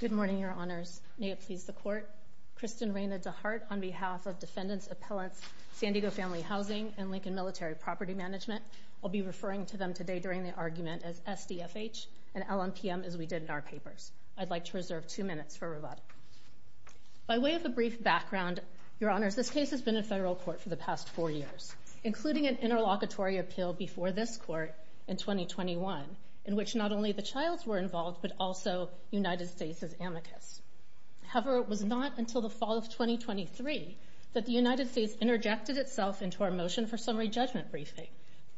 Good morning, Your Honors. May it please the Court. Kristen Reyna DeHart, on behalf of Defendants, Appellants, San Diego Family Housing, and Lincoln Military Property Management, I'll be referring to them today during the argument as SDFH and LMPM as we did in our papers. I'd like to reserve two minutes for rebuttal. By way of a brief background, Your Honors, this case has been in federal court for the past four years, including an interlocutory appeal before this Court in 2021, in which not only the Childs were involved but also United States' amicus. However, it was not until the fall of 2023 that the United States interjected itself into our motion for summary judgment briefing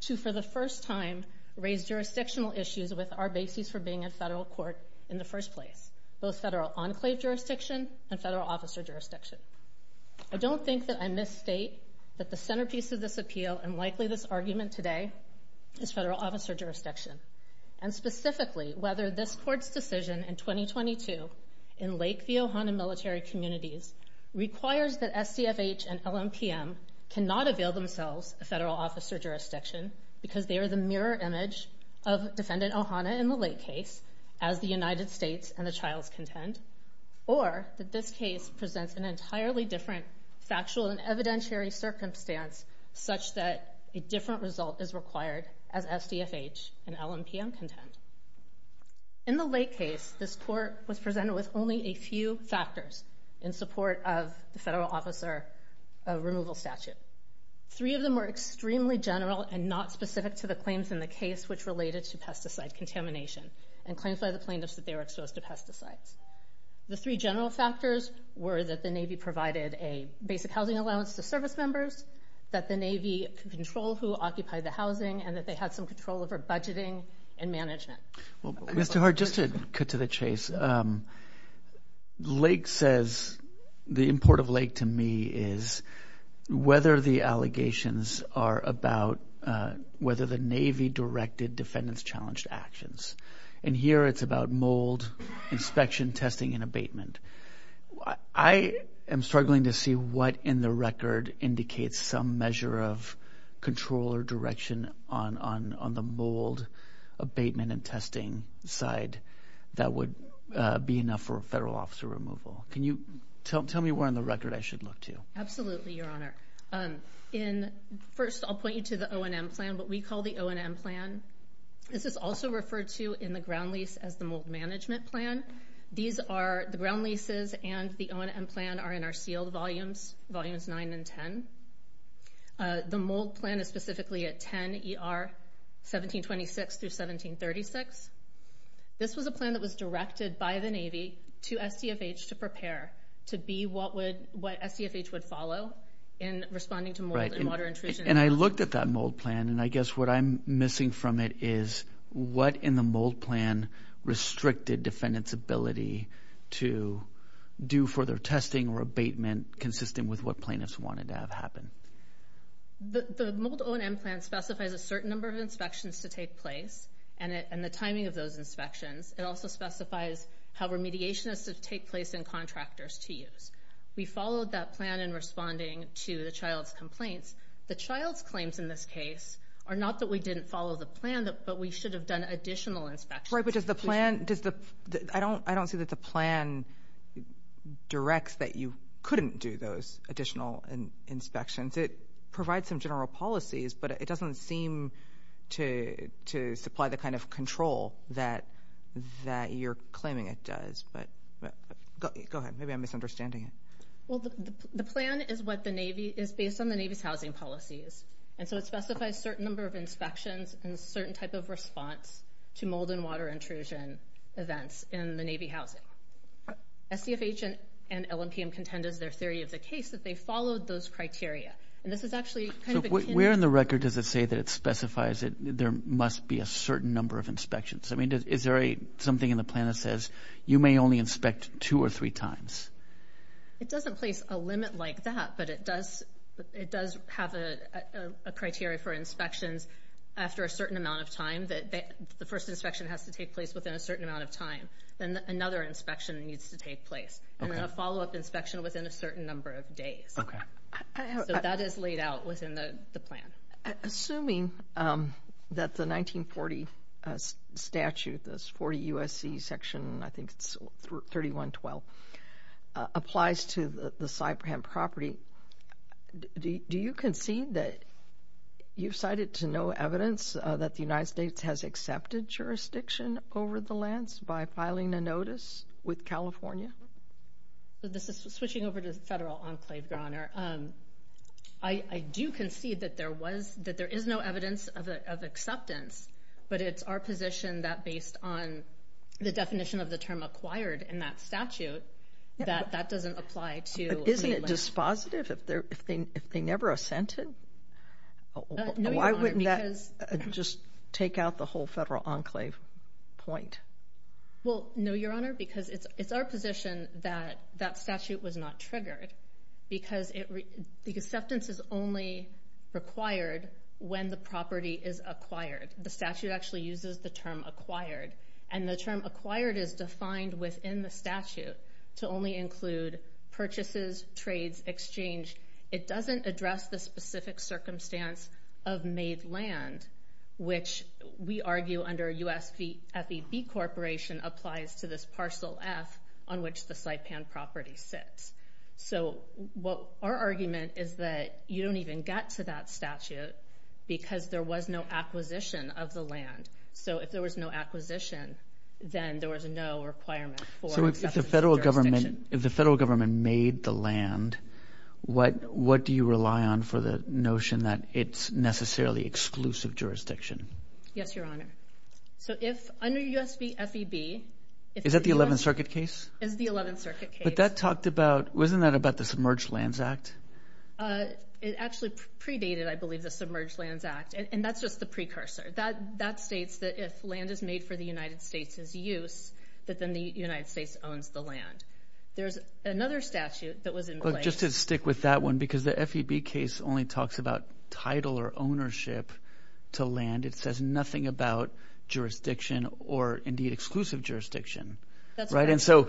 to, for the first time, raise jurisdictional issues with our basis for being in federal court in the first place, both federal enclave jurisdiction and federal officer jurisdiction. I don't think that I misstate that the centerpiece of this appeal, and likely this argument today, is federal officer jurisdiction. And specifically, whether this Court's decision in 2022 in Lake View Ohana Military Communities requires that SDFH and LMPM cannot avail themselves of federal officer jurisdiction because they are the mirror image of Defendant Ohana in the Lake case, as the United States and the Childs contend, or that this case presents an entirely different factual and evidentiary circumstance such that a different result is required as SDFH and LMPM contend. In the Lake case, this Court was presented with only a few factors in support of the federal officer removal statute. Three of them were extremely general and not specific to the claims in the case which related to pesticide contamination and claims by the plaintiffs that they were exposed to pesticides. The three general factors were that the Navy provided a basic housing allowance to service members, that the Navy could control who occupied the housing, and that they had some control over budgeting and management. Mr. Hart, just to cut to the chase, Lake says, the import of Lake to me, is whether the allegations are about whether the Navy directed defendants' challenged actions. And here it's about mold, inspection, testing, and abatement. I am struggling to see what in the record indicates some measure of control or direction on the mold abatement and testing side that would be enough for a federal officer removal. Can you tell me where in the record I should look to? Absolutely, Your Honor. First, I'll point you to the O&M plan, what we call the O&M plan. This is also referred to in the ground lease as the mold management plan. These are the ground leases, and the O&M plan are in our sealed volumes, volumes 9 and 10. The mold plan is specifically at 10 ER 1726 through 1736. This was a plan that was directed by the Navy to SDFH to prepare to be what SDFH would follow in responding to mold and water intrusion. And I looked at that mold plan, and I guess what I'm missing from it is what in the mold plan restricted defendants' ability to do further testing or abatement consistent with what plaintiffs wanted to have happen. The mold O&M plan specifies a certain number of inspections to take place and the timing of those inspections. It also specifies how remediation is to take place and contractors to use. We followed that plan in responding to the child's complaints. The child's claims in this case are not that we didn't follow the plan, but we should have done additional inspections. Right, but I don't see that the plan directs that you couldn't do those additional inspections. It provides some general policies, but it doesn't seem to supply the kind of control that you're claiming it does. Go ahead. Maybe I'm misunderstanding it. Well, the plan is based on the Navy's housing policies, and so it specifies a certain number of inspections and a certain type of response to mold and water intrusion events in the Navy housing. SDFH and LNPM contend, as their theory of the case, that they followed those criteria. And this is actually kind of a candidate. So where in the record does it say that it specifies that there must be a certain number of inspections? I mean, is there something in the plan that says you may only inspect two or three times? It doesn't place a limit like that, but it does have a criteria for inspections after a certain amount of time that the first inspection has to take place within a certain amount of time. Then another inspection needs to take place, and then a follow-up inspection within a certain number of days. So that is laid out within the plan. Assuming that the 1940 statute, this 40 U.S.C. section, I think it's 3112, applies to the Sabram property, do you concede that you've cited to no evidence that the United States has accepted jurisdiction over the lands by filing a notice with California? This is switching over to the federal enclave, Your Honor. I do concede that there is no evidence of acceptance, but it's our position that based on the definition of the term acquired in that statute, that that doesn't apply to the land. But isn't it dispositive if they never assented? No, Your Honor, because... Why wouldn't that just take out the whole federal enclave point? Well, no, Your Honor, because it's our position that that statute was not triggered because acceptance is only required when the property is acquired. The statute actually uses the term acquired, and the term acquired is defined within the statute to only include purchases, trades, exchange. It doesn't address the specific circumstance of made land, which we argue under USFEB Corporation applies to this parcel F on which the Saipan property sits. So our argument is that you don't even get to that statute because there was no acquisition of the land. So if there was no acquisition, then there was no requirement for acceptance of jurisdiction. So if the federal government made the land, what do you rely on for the notion that it's necessarily exclusive jurisdiction? Yes, Your Honor. So if under USFEB... Is that the 11th Circuit case? It's the 11th Circuit case. But that talked about, wasn't that about the Submerged Lands Act? It actually predated, I believe, the Submerged Lands Act, and that's just the precursor. That states that if land is made for the United States' use, that then the United States owns the land. There's another statute that was in place... Just to stick with that one, because the FEB case only talks about title or ownership to land. It says nothing about jurisdiction or, indeed, exclusive jurisdiction. That's right. And so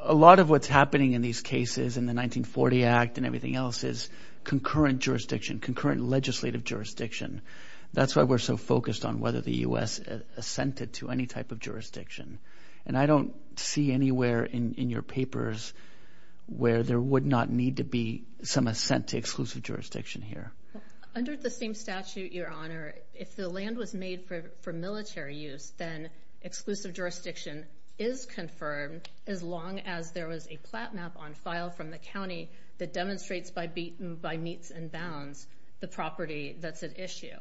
a lot of what's happening in these cases in the 1940 Act and everything else is concurrent jurisdiction, concurrent legislative jurisdiction. That's why we're so focused on whether the U.S. assented to any type of jurisdiction. And I don't see anywhere in your papers where there would not need to be some assent to exclusive jurisdiction here. Under the same statute, Your Honor, if the land was made for military use, then exclusive jurisdiction is confirmed as long as there was a plat map on file from the county that demonstrates by meets and bounds the property that's at issue.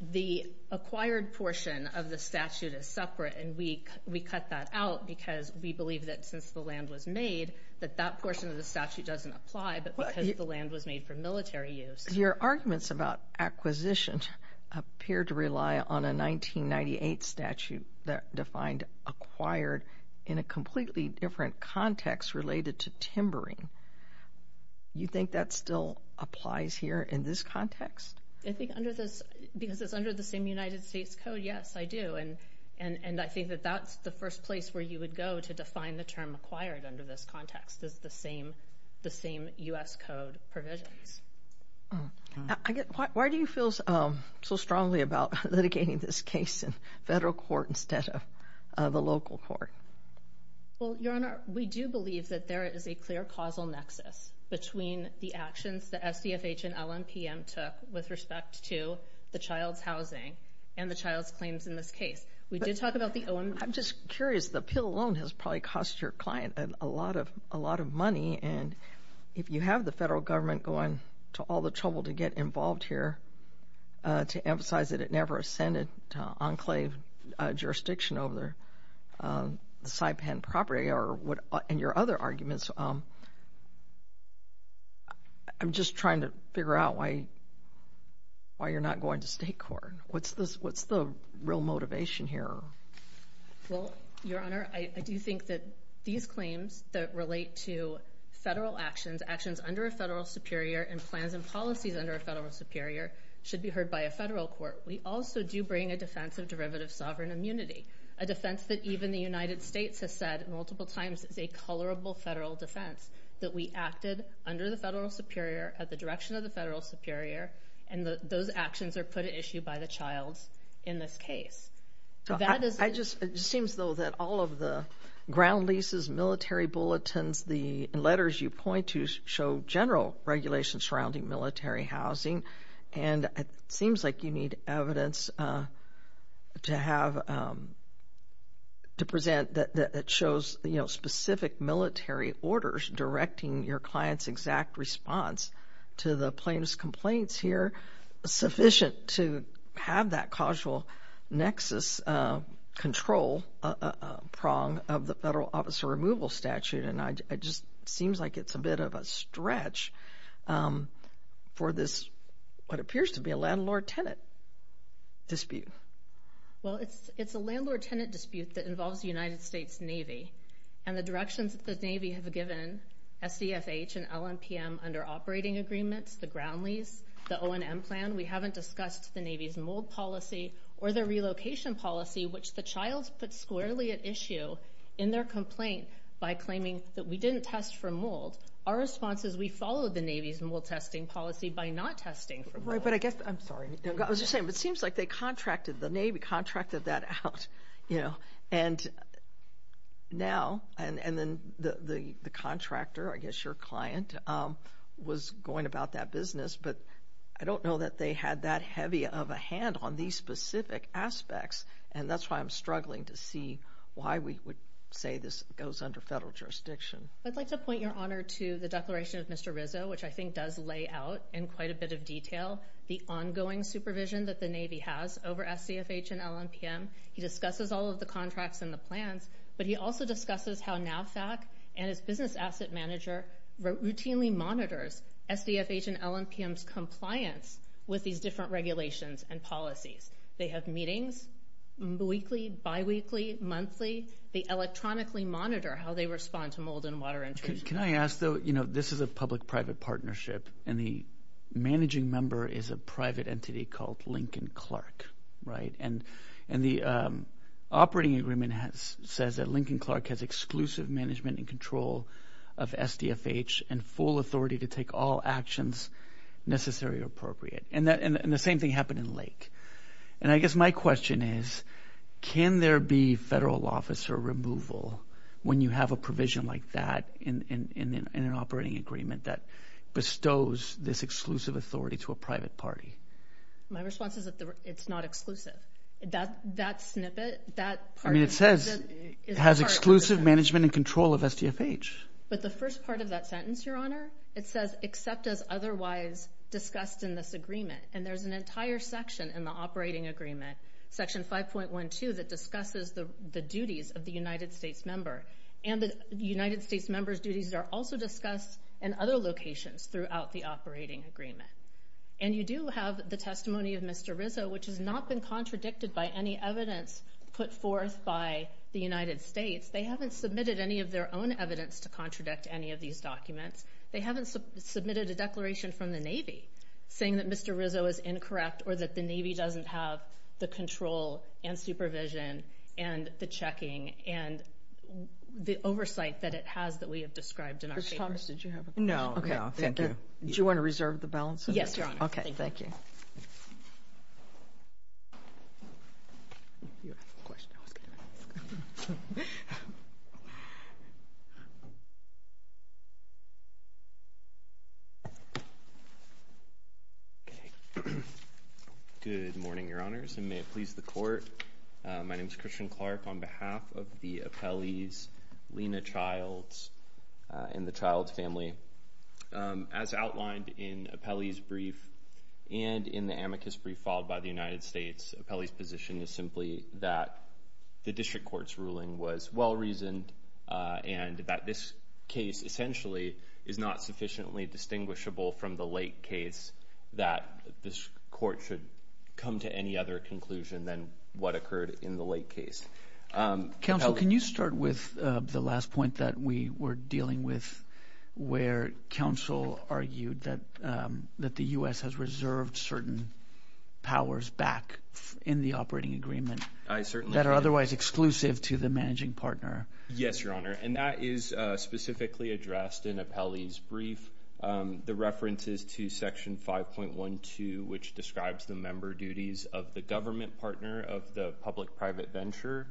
The acquired portion of the statute is separate, and we cut that out because we believe that since the land was made, that that portion of the statute doesn't apply because the land was made for military use. Your arguments about acquisition appear to rely on a 1998 statute that defined acquired in a completely different context related to timbering. You think that still applies here in this context? I think because it's under the same United States Code, yes, I do. And I think that that's the first place where you would go to define the term acquired under this context, is the same U.S. Code provisions. Why do you feel so strongly about litigating this case in federal court instead of the local court? Well, Your Honor, we do believe that there is a clear causal nexus between the actions that SDFH and LNPM took with respect to the child's housing and the child's claims in this case. We did talk about the OMB. I'm just curious. The appeal alone has probably cost your client a lot of money, and if you have the federal government going to all the trouble to get involved here to emphasize that it never ascended to enclave jurisdiction over the Saipan property and your other arguments, I'm just trying to figure out why you're not going to state court. What's the real motivation here? Well, Your Honor, I do think that these claims that relate to federal actions, actions under a federal superior and plans and policies under a federal superior, should be heard by a federal court. We also do bring a defense of derivative sovereign immunity, a defense that even the United States has said multiple times is a colorable federal defense, that we acted under the federal superior at the direction of the federal superior, and those actions are put at issue by the child in this case. It seems, though, that all of the ground leases, military bulletins, the letters you point to show general regulations surrounding military housing, and it seems like you need evidence to present that it shows specific military orders directing your client's exact response to the plaintiff's complaints here, sufficient to have that causal nexus control prong of the federal officer removal statute, and it just seems like it's a bit of a stretch for this, what appears to be a landlord-tenant dispute. Well, it's a landlord-tenant dispute that involves the United States Navy, and the directions that the Navy have given SDFH and LNPM under operating agreements, the ground lease, the O&M plan, we haven't discussed the Navy's mold policy or the relocation policy, which the child's put squarely at issue in their complaint by claiming that we didn't test for mold. Our response is we followed the Navy's mold testing policy by not testing for mold. Right, but I guess I'm sorry. I was just saying it seems like they contracted, the Navy contracted that out, you know, and now, and then the contractor, I guess your client, was going about that business, but I don't know that they had that heavy of a hand on these specific aspects, and that's why I'm struggling to see why we would say this goes under federal jurisdiction. I'd like to point your honor to the Declaration of Mr. Rizzo, which I think does lay out in quite a bit of detail the ongoing supervision that the Navy has over SDFH and LNPM. He discusses all of the contracts and the plans, but he also discusses how NAVFAC and its business asset manager routinely monitors SDFH and LNPM's compliance with these different regulations and policies. They have meetings weekly, biweekly, monthly. They electronically monitor how they respond to mold and water intrusion. Can I ask, though, you know, this is a public-private partnership, and the managing member is a private entity called Lincoln Clark, right? And the operating agreement says that Lincoln Clark has exclusive management and control of SDFH and full authority to take all actions necessary or appropriate, and the same thing happened in Lake. And I guess my question is can there be federal officer removal when you have a provision like that in an operating agreement that bestows this exclusive authority to a private party? My response is that it's not exclusive. That snippet, that part of it is not exclusive. I mean, it says it has exclusive management and control of SDFH. But the first part of that sentence, your honor, it says except as otherwise discussed in this agreement, and there's an entire section in the operating agreement, Section 5.12, that discusses the duties of the United States member and the United States member's duties are also discussed in other locations throughout the operating agreement. And you do have the testimony of Mr. Rizzo, which has not been contradicted by any evidence put forth by the United States. They haven't submitted any of their own evidence to contradict any of these documents. They haven't submitted a declaration from the Navy saying that Mr. Rizzo is incorrect or that the Navy doesn't have the control and supervision and the checking and the oversight that it has that we have described in our papers. Judge Thomas, did you have a question? No. Okay, thank you. Do you want to reserve the balance? Yes, your honor. Okay, thank you. Good morning, your honors, and may it please the court. My name is Christian Clark. On behalf of the Apelles, Lena Childs, and the Childs family, as outlined in Apelles' brief and in the amicus brief followed by the United States, Apelles' position is simply that the district court's ruling was well-reasoned and that this case essentially is not sufficiently distinguishable from the late case that this court should come to any other conclusion than what occurred in the late case. Counsel, can you start with the last point that we were dealing with where counsel argued that the U.S. has reserved certain powers back in the operating agreement that are otherwise exclusive to the managing partner? Yes, your honor, and that is specifically addressed in Apelles' brief. The reference is to Section 5.12, which describes the member duties of the government partner of the public-private venture.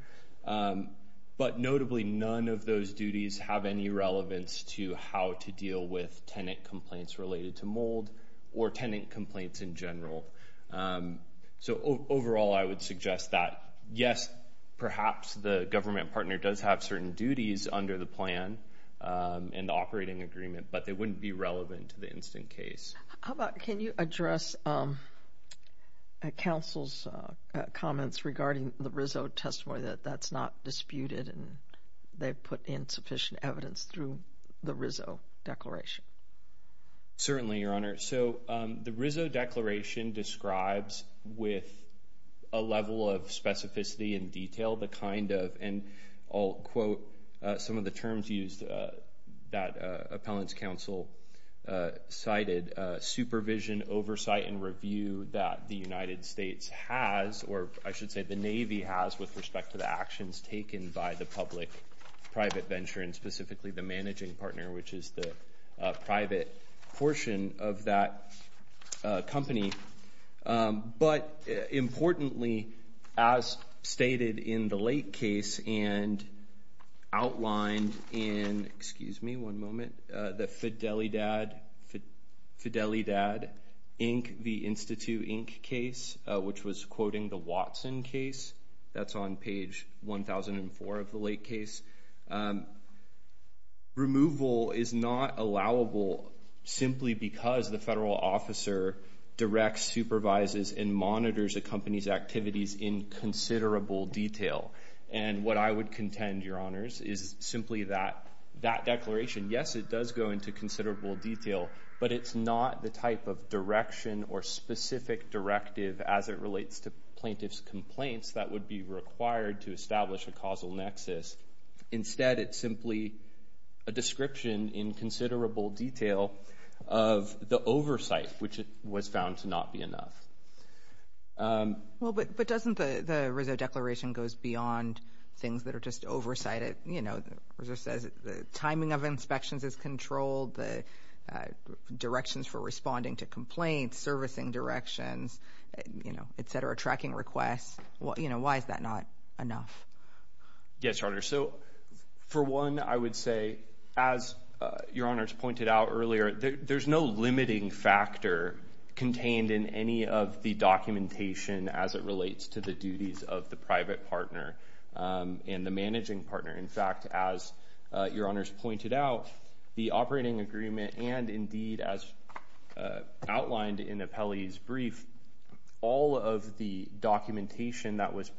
But notably, none of those duties have any relevance to how to deal with tenant complaints related to mold or tenant complaints in general. So, overall, I would suggest that, yes, perhaps the government partner does have certain duties under the plan and the operating agreement, but they wouldn't be relevant to the instant case. How about can you address counsel's comments regarding the Rizzo testimony that that's not disputed and they've put in sufficient evidence through the Rizzo declaration? Certainly, your honor. So the Rizzo declaration describes with a level of specificity and detail the kind of, and I'll quote some of the terms used that appellant's counsel cited, supervision, oversight, and review that the United States has, or I should say the Navy has with respect to the actions taken by the public-private venture and specifically the managing partner, which is the private portion of that company. But importantly, as stated in the late case and outlined in, excuse me one moment, the Fidelidad Inc. v. Institute Inc. case, which was quoting the Watson case, that's on page 1004 of the late case, removal is not allowable simply because the federal officer directs, supervises, and monitors a company's activities in considerable detail. And what I would contend, your honors, is simply that that declaration, yes it does go into considerable detail, but it's not the type of direction or specific directive as it relates to plaintiff's complaints that would be required to establish a causal nexus. Instead, it's simply a description in considerable detail of the oversight, which was found to not be enough. Well, but doesn't the Rizzo Declaration goes beyond things that are just oversighted? You know, Rizzo says the timing of inspections is controlled, the directions for responding to complaints, servicing directions, et cetera, tracking requests. Why is that not enough? Yes, your honor. So for one, I would say, as your honors pointed out earlier, there's no limiting factor contained in any of the documentation as it relates to the duties of the private partner and the managing partner. In fact, as your honors pointed out, the operating agreement and indeed as outlined in the appellee's brief, all of the documentation that was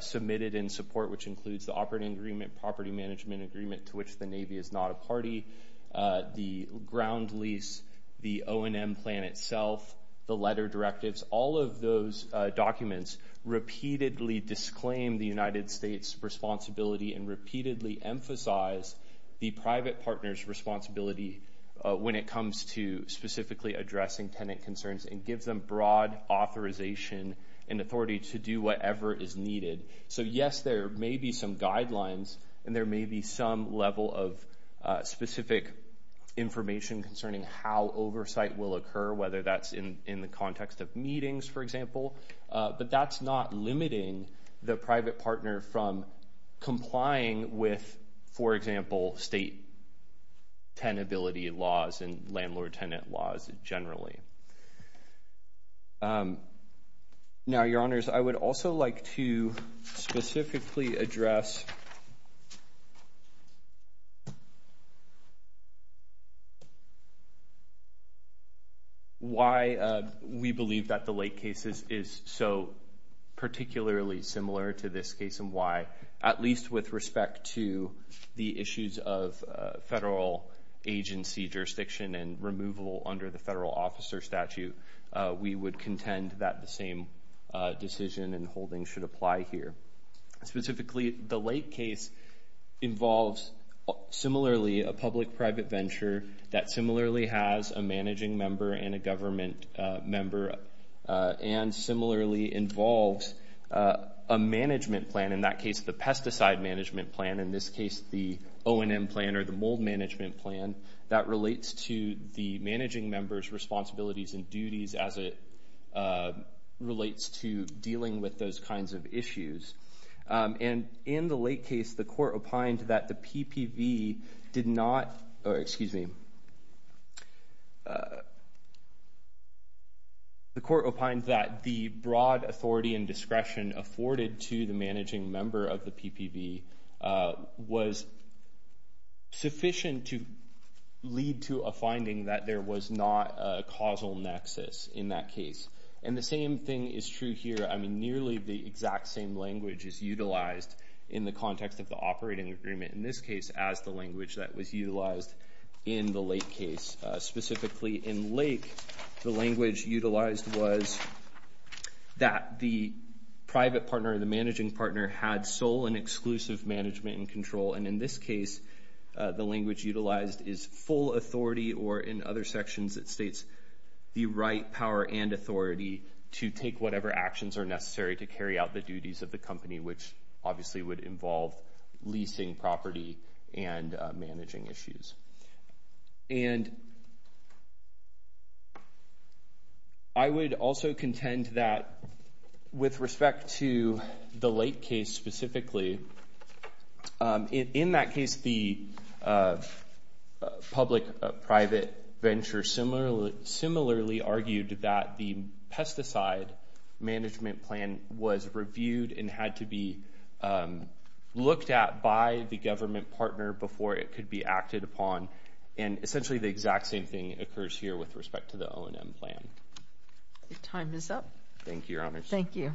submitted in support, which includes the operating agreement, property management agreement, to which the Navy is not a party, the ground lease, the O&M plan itself, the letter directives, all of those documents repeatedly disclaim the United States' responsibility and repeatedly emphasize the private partner's responsibility when it comes to specifically addressing tenant concerns and gives them broad authorization and authority to do whatever is needed. So yes, there may be some guidelines and there may be some level of specific information concerning how oversight will occur, whether that's in the context of meetings, for example, but that's not limiting the private partner from complying with, for example, state tenability laws and landlord-tenant laws generally. Now, your honors, I would also like to specifically address why we believe that the Lake case is so particularly similar to this case and why, at least with respect to the issues of federal agency jurisdiction and removal under the federal officer statute, we would contend that the same decision and holding should apply here. Specifically, the Lake case involves similarly a public-private venture that similarly has a managing member and a government member and similarly involves a management plan, in that case the pesticide management plan, in this case the O&M plan or the mold management plan, that relates to the managing member's responsibilities and duties as it relates to dealing with those kinds of issues. And in the Lake case, the court opined that the PPV did not, or excuse me, the court opined that the broad authority and discretion afforded to the managing member of the PPV was sufficient to lead to a finding that there was not a causal nexus in that case. And the same thing is true here. I mean, nearly the exact same language is utilized in the context of the operating agreement, in this case as the language that was utilized in the Lake case. Specifically, in Lake, the language utilized was that the private partner or the managing partner had sole and exclusive management and control, and in this case, the language utilized is full authority or in other sections it states the right power and authority to take whatever actions are necessary to carry out the duties of the company, which obviously would involve leasing property and managing issues. And I would also contend that with respect to the Lake case specifically, in that case, the public-private venture similarly argued that the pesticide management plan was reviewed and had to be looked at by the government partner before it could be acted upon, and essentially the exact same thing occurs here with respect to the O&M plan. Your time is up. Thank you, Your Honor. Thank you.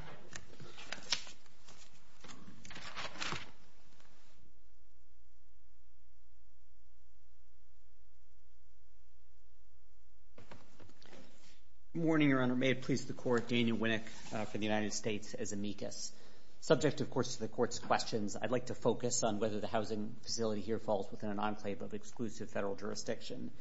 Good morning, Your Honor. May it please the Court, Daniel Winnick for the United States as amicus. Subject, of course, to the Court's questions, I'd like to focus on whether the housing facility here falls within an enclave of exclusive federal jurisdiction.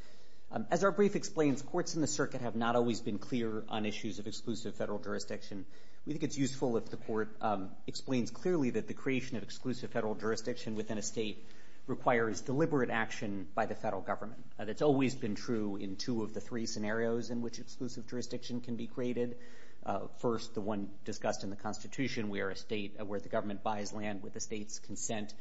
As our brief explains, courts in the circuit have not always been clear on issues of exclusive federal jurisdiction. We think it's useful if the Court explains clearly that the creation of exclusive federal jurisdiction within a state requires deliberate action by the federal government. That's always been true in two of the three scenarios in which exclusive jurisdiction can be created. First, the one discussed in the Constitution, where the government buys land with the state's consent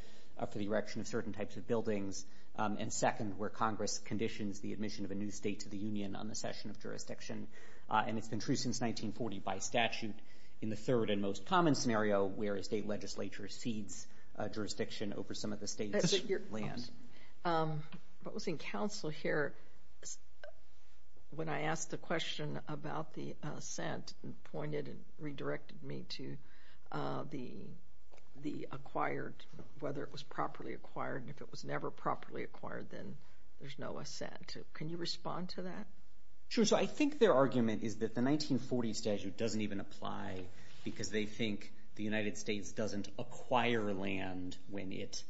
for the erection of certain types of buildings, and second, where Congress conditions the admission of a new state to the Union on the cession of jurisdiction, and it's been true since 1940 by statute. In the third and most common scenario, where a state legislature cedes jurisdiction over some of the state's land. What was in counsel here, when I asked the question about the assent, it pointed and redirected me to the acquired, whether it was properly acquired, and if it was never properly acquired, then there's no assent. Can you respond to that? Sure. So I think their argument is that the 1940 statute doesn't even apply because they think the United States doesn't acquire land when it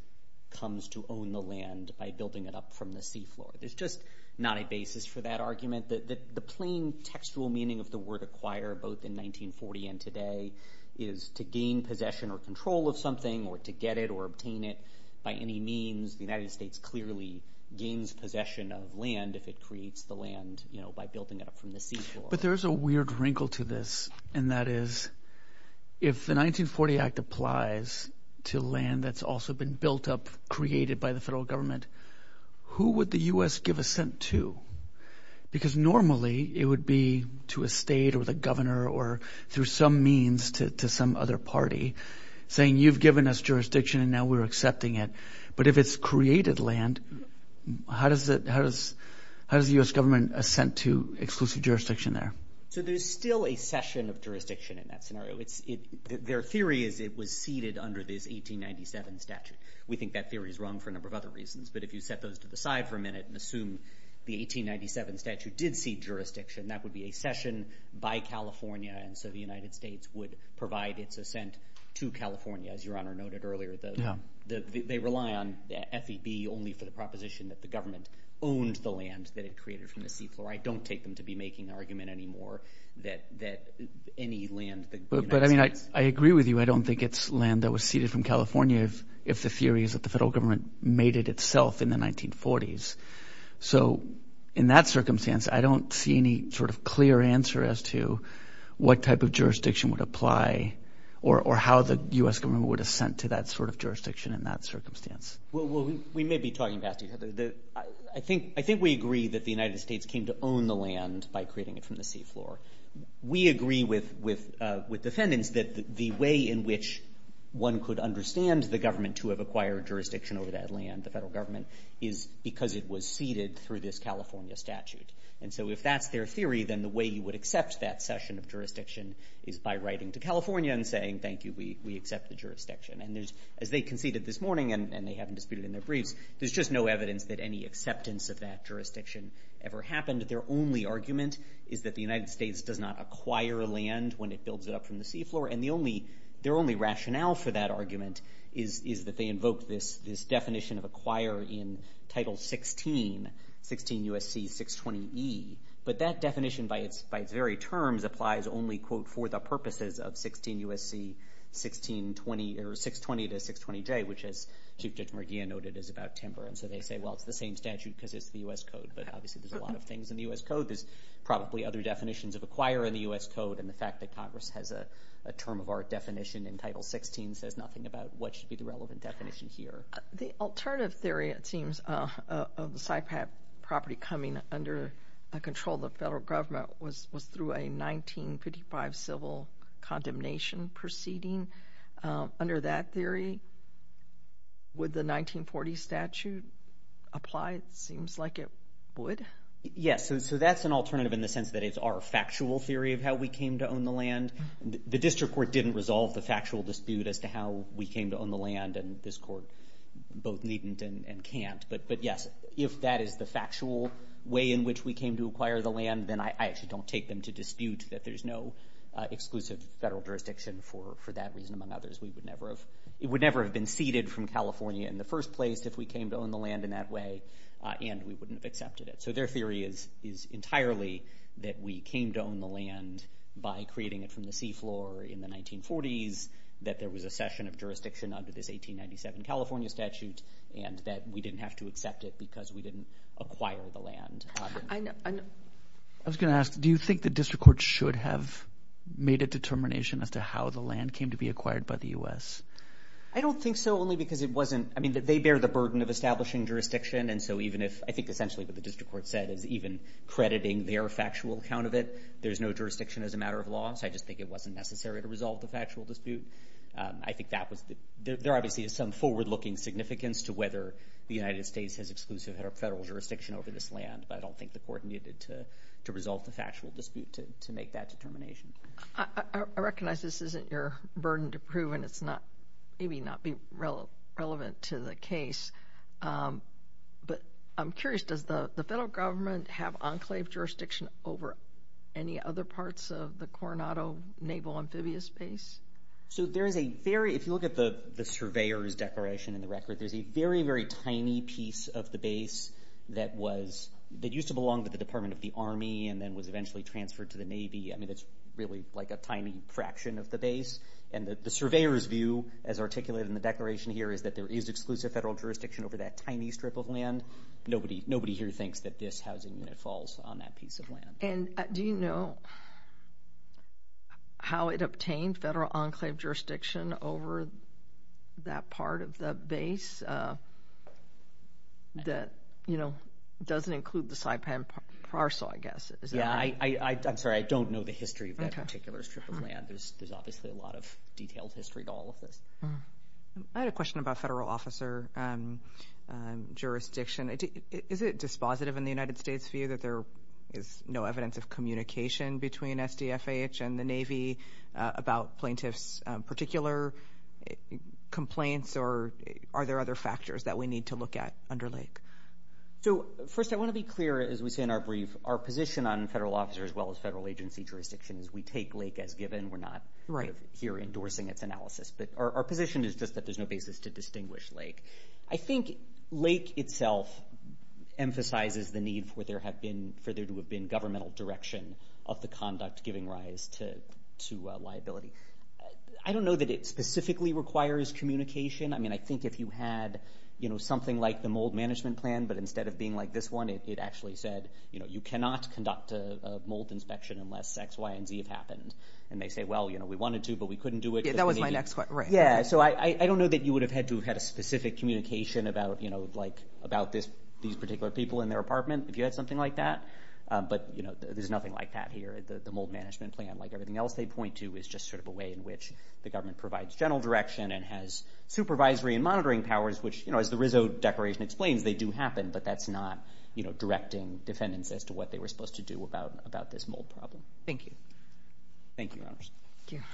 comes to own the land by building it up from the seafloor. There's just not a basis for that argument. The plain textual meaning of the word acquire, both in 1940 and today, is to gain possession or control of something, or to get it or obtain it by any means. The United States clearly gains possession of land if it creates the land by building it up from the seafloor. But there's a weird wrinkle to this, and that is if the 1940 Act applies to land that's also been built up, created by the federal government, who would the U.S. give assent to? Because normally it would be to a state or the governor or through some means to some other party saying, you've given us jurisdiction and now we're accepting it. But if it's created land, how does the U.S. government assent to exclusive jurisdiction there? So there's still a session of jurisdiction in that scenario. Their theory is it was ceded under this 1897 statute. We think that theory is wrong for a number of other reasons, but if you set those to the side for a minute and assume the 1897 statute did cede jurisdiction, that would be a session by California, and so the United States would provide its assent to California, as Your Honor noted earlier. They rely on FEB only for the proposition that the government owned the land that it created from the seafloor. I don't take them to be making an argument anymore that any land that the United States. But, I mean, I agree with you. I don't think it's land that was ceded from California if the theory is that the federal government made it itself in the 1940s. So in that circumstance, I don't see any sort of clear answer as to what type of jurisdiction would apply or how the U.S. government would assent to that sort of jurisdiction in that circumstance. Well, we may be talking past each other. I think we agree that the United States came to own the land by creating it from the seafloor. We agree with defendants that the way in which one could understand the government to have acquired jurisdiction over that land, the federal government, is because it was ceded through this California statute. And so if that's their theory, then the way you would accept that session of jurisdiction is by writing to California and saying, Thank you, we accept the jurisdiction. And as they conceded this morning, and they haven't disputed in their briefs, there's just no evidence that any acceptance of that jurisdiction ever happened. Their only argument is that the United States does not acquire land when it builds it up from the seafloor. And their only rationale for that argument is that they invoke this definition of acquire in Title 16, 16 U.S.C. 620E. But that definition by its very terms applies only, quote, for the purposes of 16 U.S.C. 620 or 620 to 620J, which, as Chief Judge Murguia noted, is about timber. And so they say, Well, it's the same statute because it's the U.S. Code. But obviously there's a lot of things in the U.S. Code. There's probably other definitions of acquire in the U.S. Code. And the fact that Congress has a term of our definition in Title 16 says nothing about what should be the relevant definition here. The alternative theory, it seems, of the SIPAP property coming under control of the federal government was through a 1955 civil condemnation proceeding. Under that theory, would the 1940 statute apply? It seems like it would. Yes, so that's an alternative in the sense that it's our factual theory of how we came to own the land. The district court didn't resolve the factual dispute as to how we came to own the land, and this court both needn't and can't. But, yes, if that is the factual way in which we came to acquire the land, then I actually don't take them to dispute that there's no exclusive federal jurisdiction for that reason, among others. It would never have been ceded from California in the first place if we came to own the land in that way, and we wouldn't have accepted it. So their theory is entirely that we came to own the land by creating it from the seafloor in the 1940s, that there was a session of jurisdiction under this 1897 California statute, and that we didn't have to accept it because we didn't acquire the land. I was going to ask, do you think the district court should have made a determination as to how the land came to be acquired by the U.S.? I don't think so, only because it wasn't. I mean, they bear the burden of establishing jurisdiction, and so even if I think essentially what the district court said is even crediting their factual account of it, there's no jurisdiction as a matter of law, so I just think it wasn't necessary to resolve the factual dispute. I think there obviously is some forward-looking significance to whether the United States has exclusive federal jurisdiction over this land, but I don't think the court needed to resolve the factual dispute to make that determination. I recognize this isn't your burden to prove, and it's maybe not relevant to the case, but I'm curious, does the federal government have enclave jurisdiction over any other parts of the Coronado Naval Amphibious Base? So there is a very—if you look at the surveyor's declaration in the record, there's a very, very tiny piece of the base that was— that used to belong to the Department of the Army and then was eventually transferred to the Navy. I mean, it's really like a tiny fraction of the base, and the surveyor's view as articulated in the declaration here is that there is exclusive federal jurisdiction over that tiny strip of land. Nobody here thinks that this housing unit falls on that piece of land. And do you know how it obtained federal enclave jurisdiction over that part of the base that, you know, doesn't include the Saipan Parcel, I guess? Is that right? Yeah, I'm sorry. I don't know the history of that particular strip of land. There's obviously a lot of detailed history to all of this. I had a question about federal officer jurisdiction. Is it dispositive in the United States view that there is no evidence of communication between SDFH and the Navy about plaintiffs' particular complaints, or are there other factors that we need to look at under Lake? First, I want to be clear, as we say in our brief, our position on federal officer as well as federal agency jurisdiction is we take Lake as given. We're not here endorsing its analysis. But our position is just that there's no basis to distinguish Lake. I think Lake itself emphasizes the need for there to have been governmental direction of the conduct giving rise to liability. I don't know that it specifically requires communication. I mean, I think if you had, you know, something like the mold management plan, but instead of being like this one, it actually said, you know, you cannot conduct a mold inspection unless X, Y, and Z have happened. And they say, well, you know, we wanted to, but we couldn't do it. That was my next question. Yeah, so I don't know that you would have had to have had a specific communication about, you know, like about these particular people in their apartment if you had something like that. But, you know, there's nothing like that here. The mold management plan, like everything else they point to, is just sort of a way in which the government provides general direction and has supervisory and monitoring powers, which, you know, as the Rizzo Declaration explains, they do happen, but that's not, you know, directing defendants as to what they were supposed to do about this mold problem. Thank you. Thank you, Your Honors. Thank you.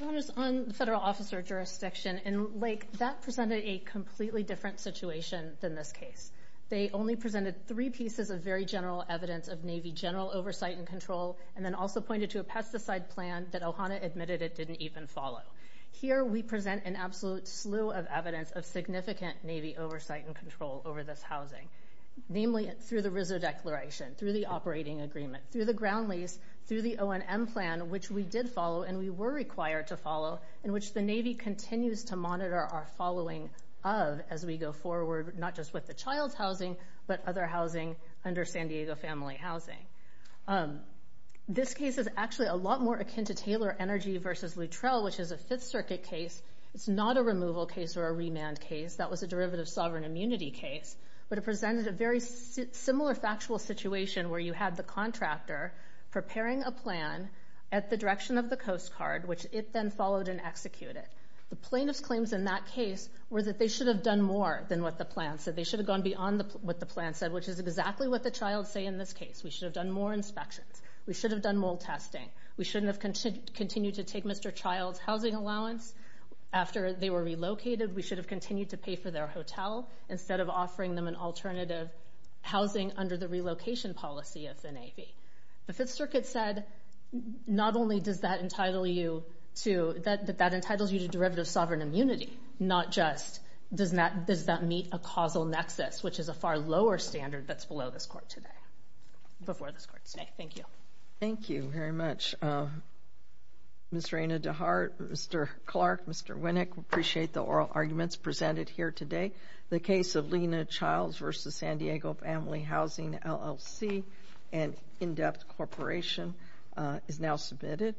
Your Honors, on the federal officer jurisdiction, and, like, that presented a completely different situation than this case. They only presented three pieces of very general evidence of Navy general oversight and control and then also pointed to a pesticide plan that Ohana admitted it didn't even follow. Here we present an absolute slew of evidence of significant Navy oversight and control over this housing, namely through the Rizzo Declaration, through the operating agreement, through the ground lease, through the O&M plan, which we did follow and we were required to follow, in which the Navy continues to monitor our following of, as we go forward, not just with the child's housing but other housing under San Diego family housing. This case is actually a lot more akin to Taylor Energy v. Luttrell, which is a Fifth Circuit case. It's not a removal case or a remand case. That was a derivative sovereign immunity case, but it presented a very similar factual situation where you had the contractor preparing a plan at the direction of the Coast Guard, which it then followed and executed. The plaintiff's claims in that case were that they should have done more than what the plan said. They should have gone beyond what the plan said, which is exactly what the child say in this case. We should have done more inspections. We should have done more testing. We shouldn't have continued to take Mr. Child's housing allowance. After they were relocated, we should have continued to pay for their hotel instead of offering them an alternative housing under the relocation policy of the Navy. The Fifth Circuit said not only does that entitle you to derivative sovereign immunity, not just does that meet a causal nexus, which is a far lower standard that's below this Court today, before this Court today. Thank you. Thank you very much, Ms. Reyna DeHart, Mr. Clark, Mr. Winnick. We appreciate the oral arguments presented here today. The case of Lena Childs v. San Diego Family Housing LLC, an in-depth corporation, is now submitted.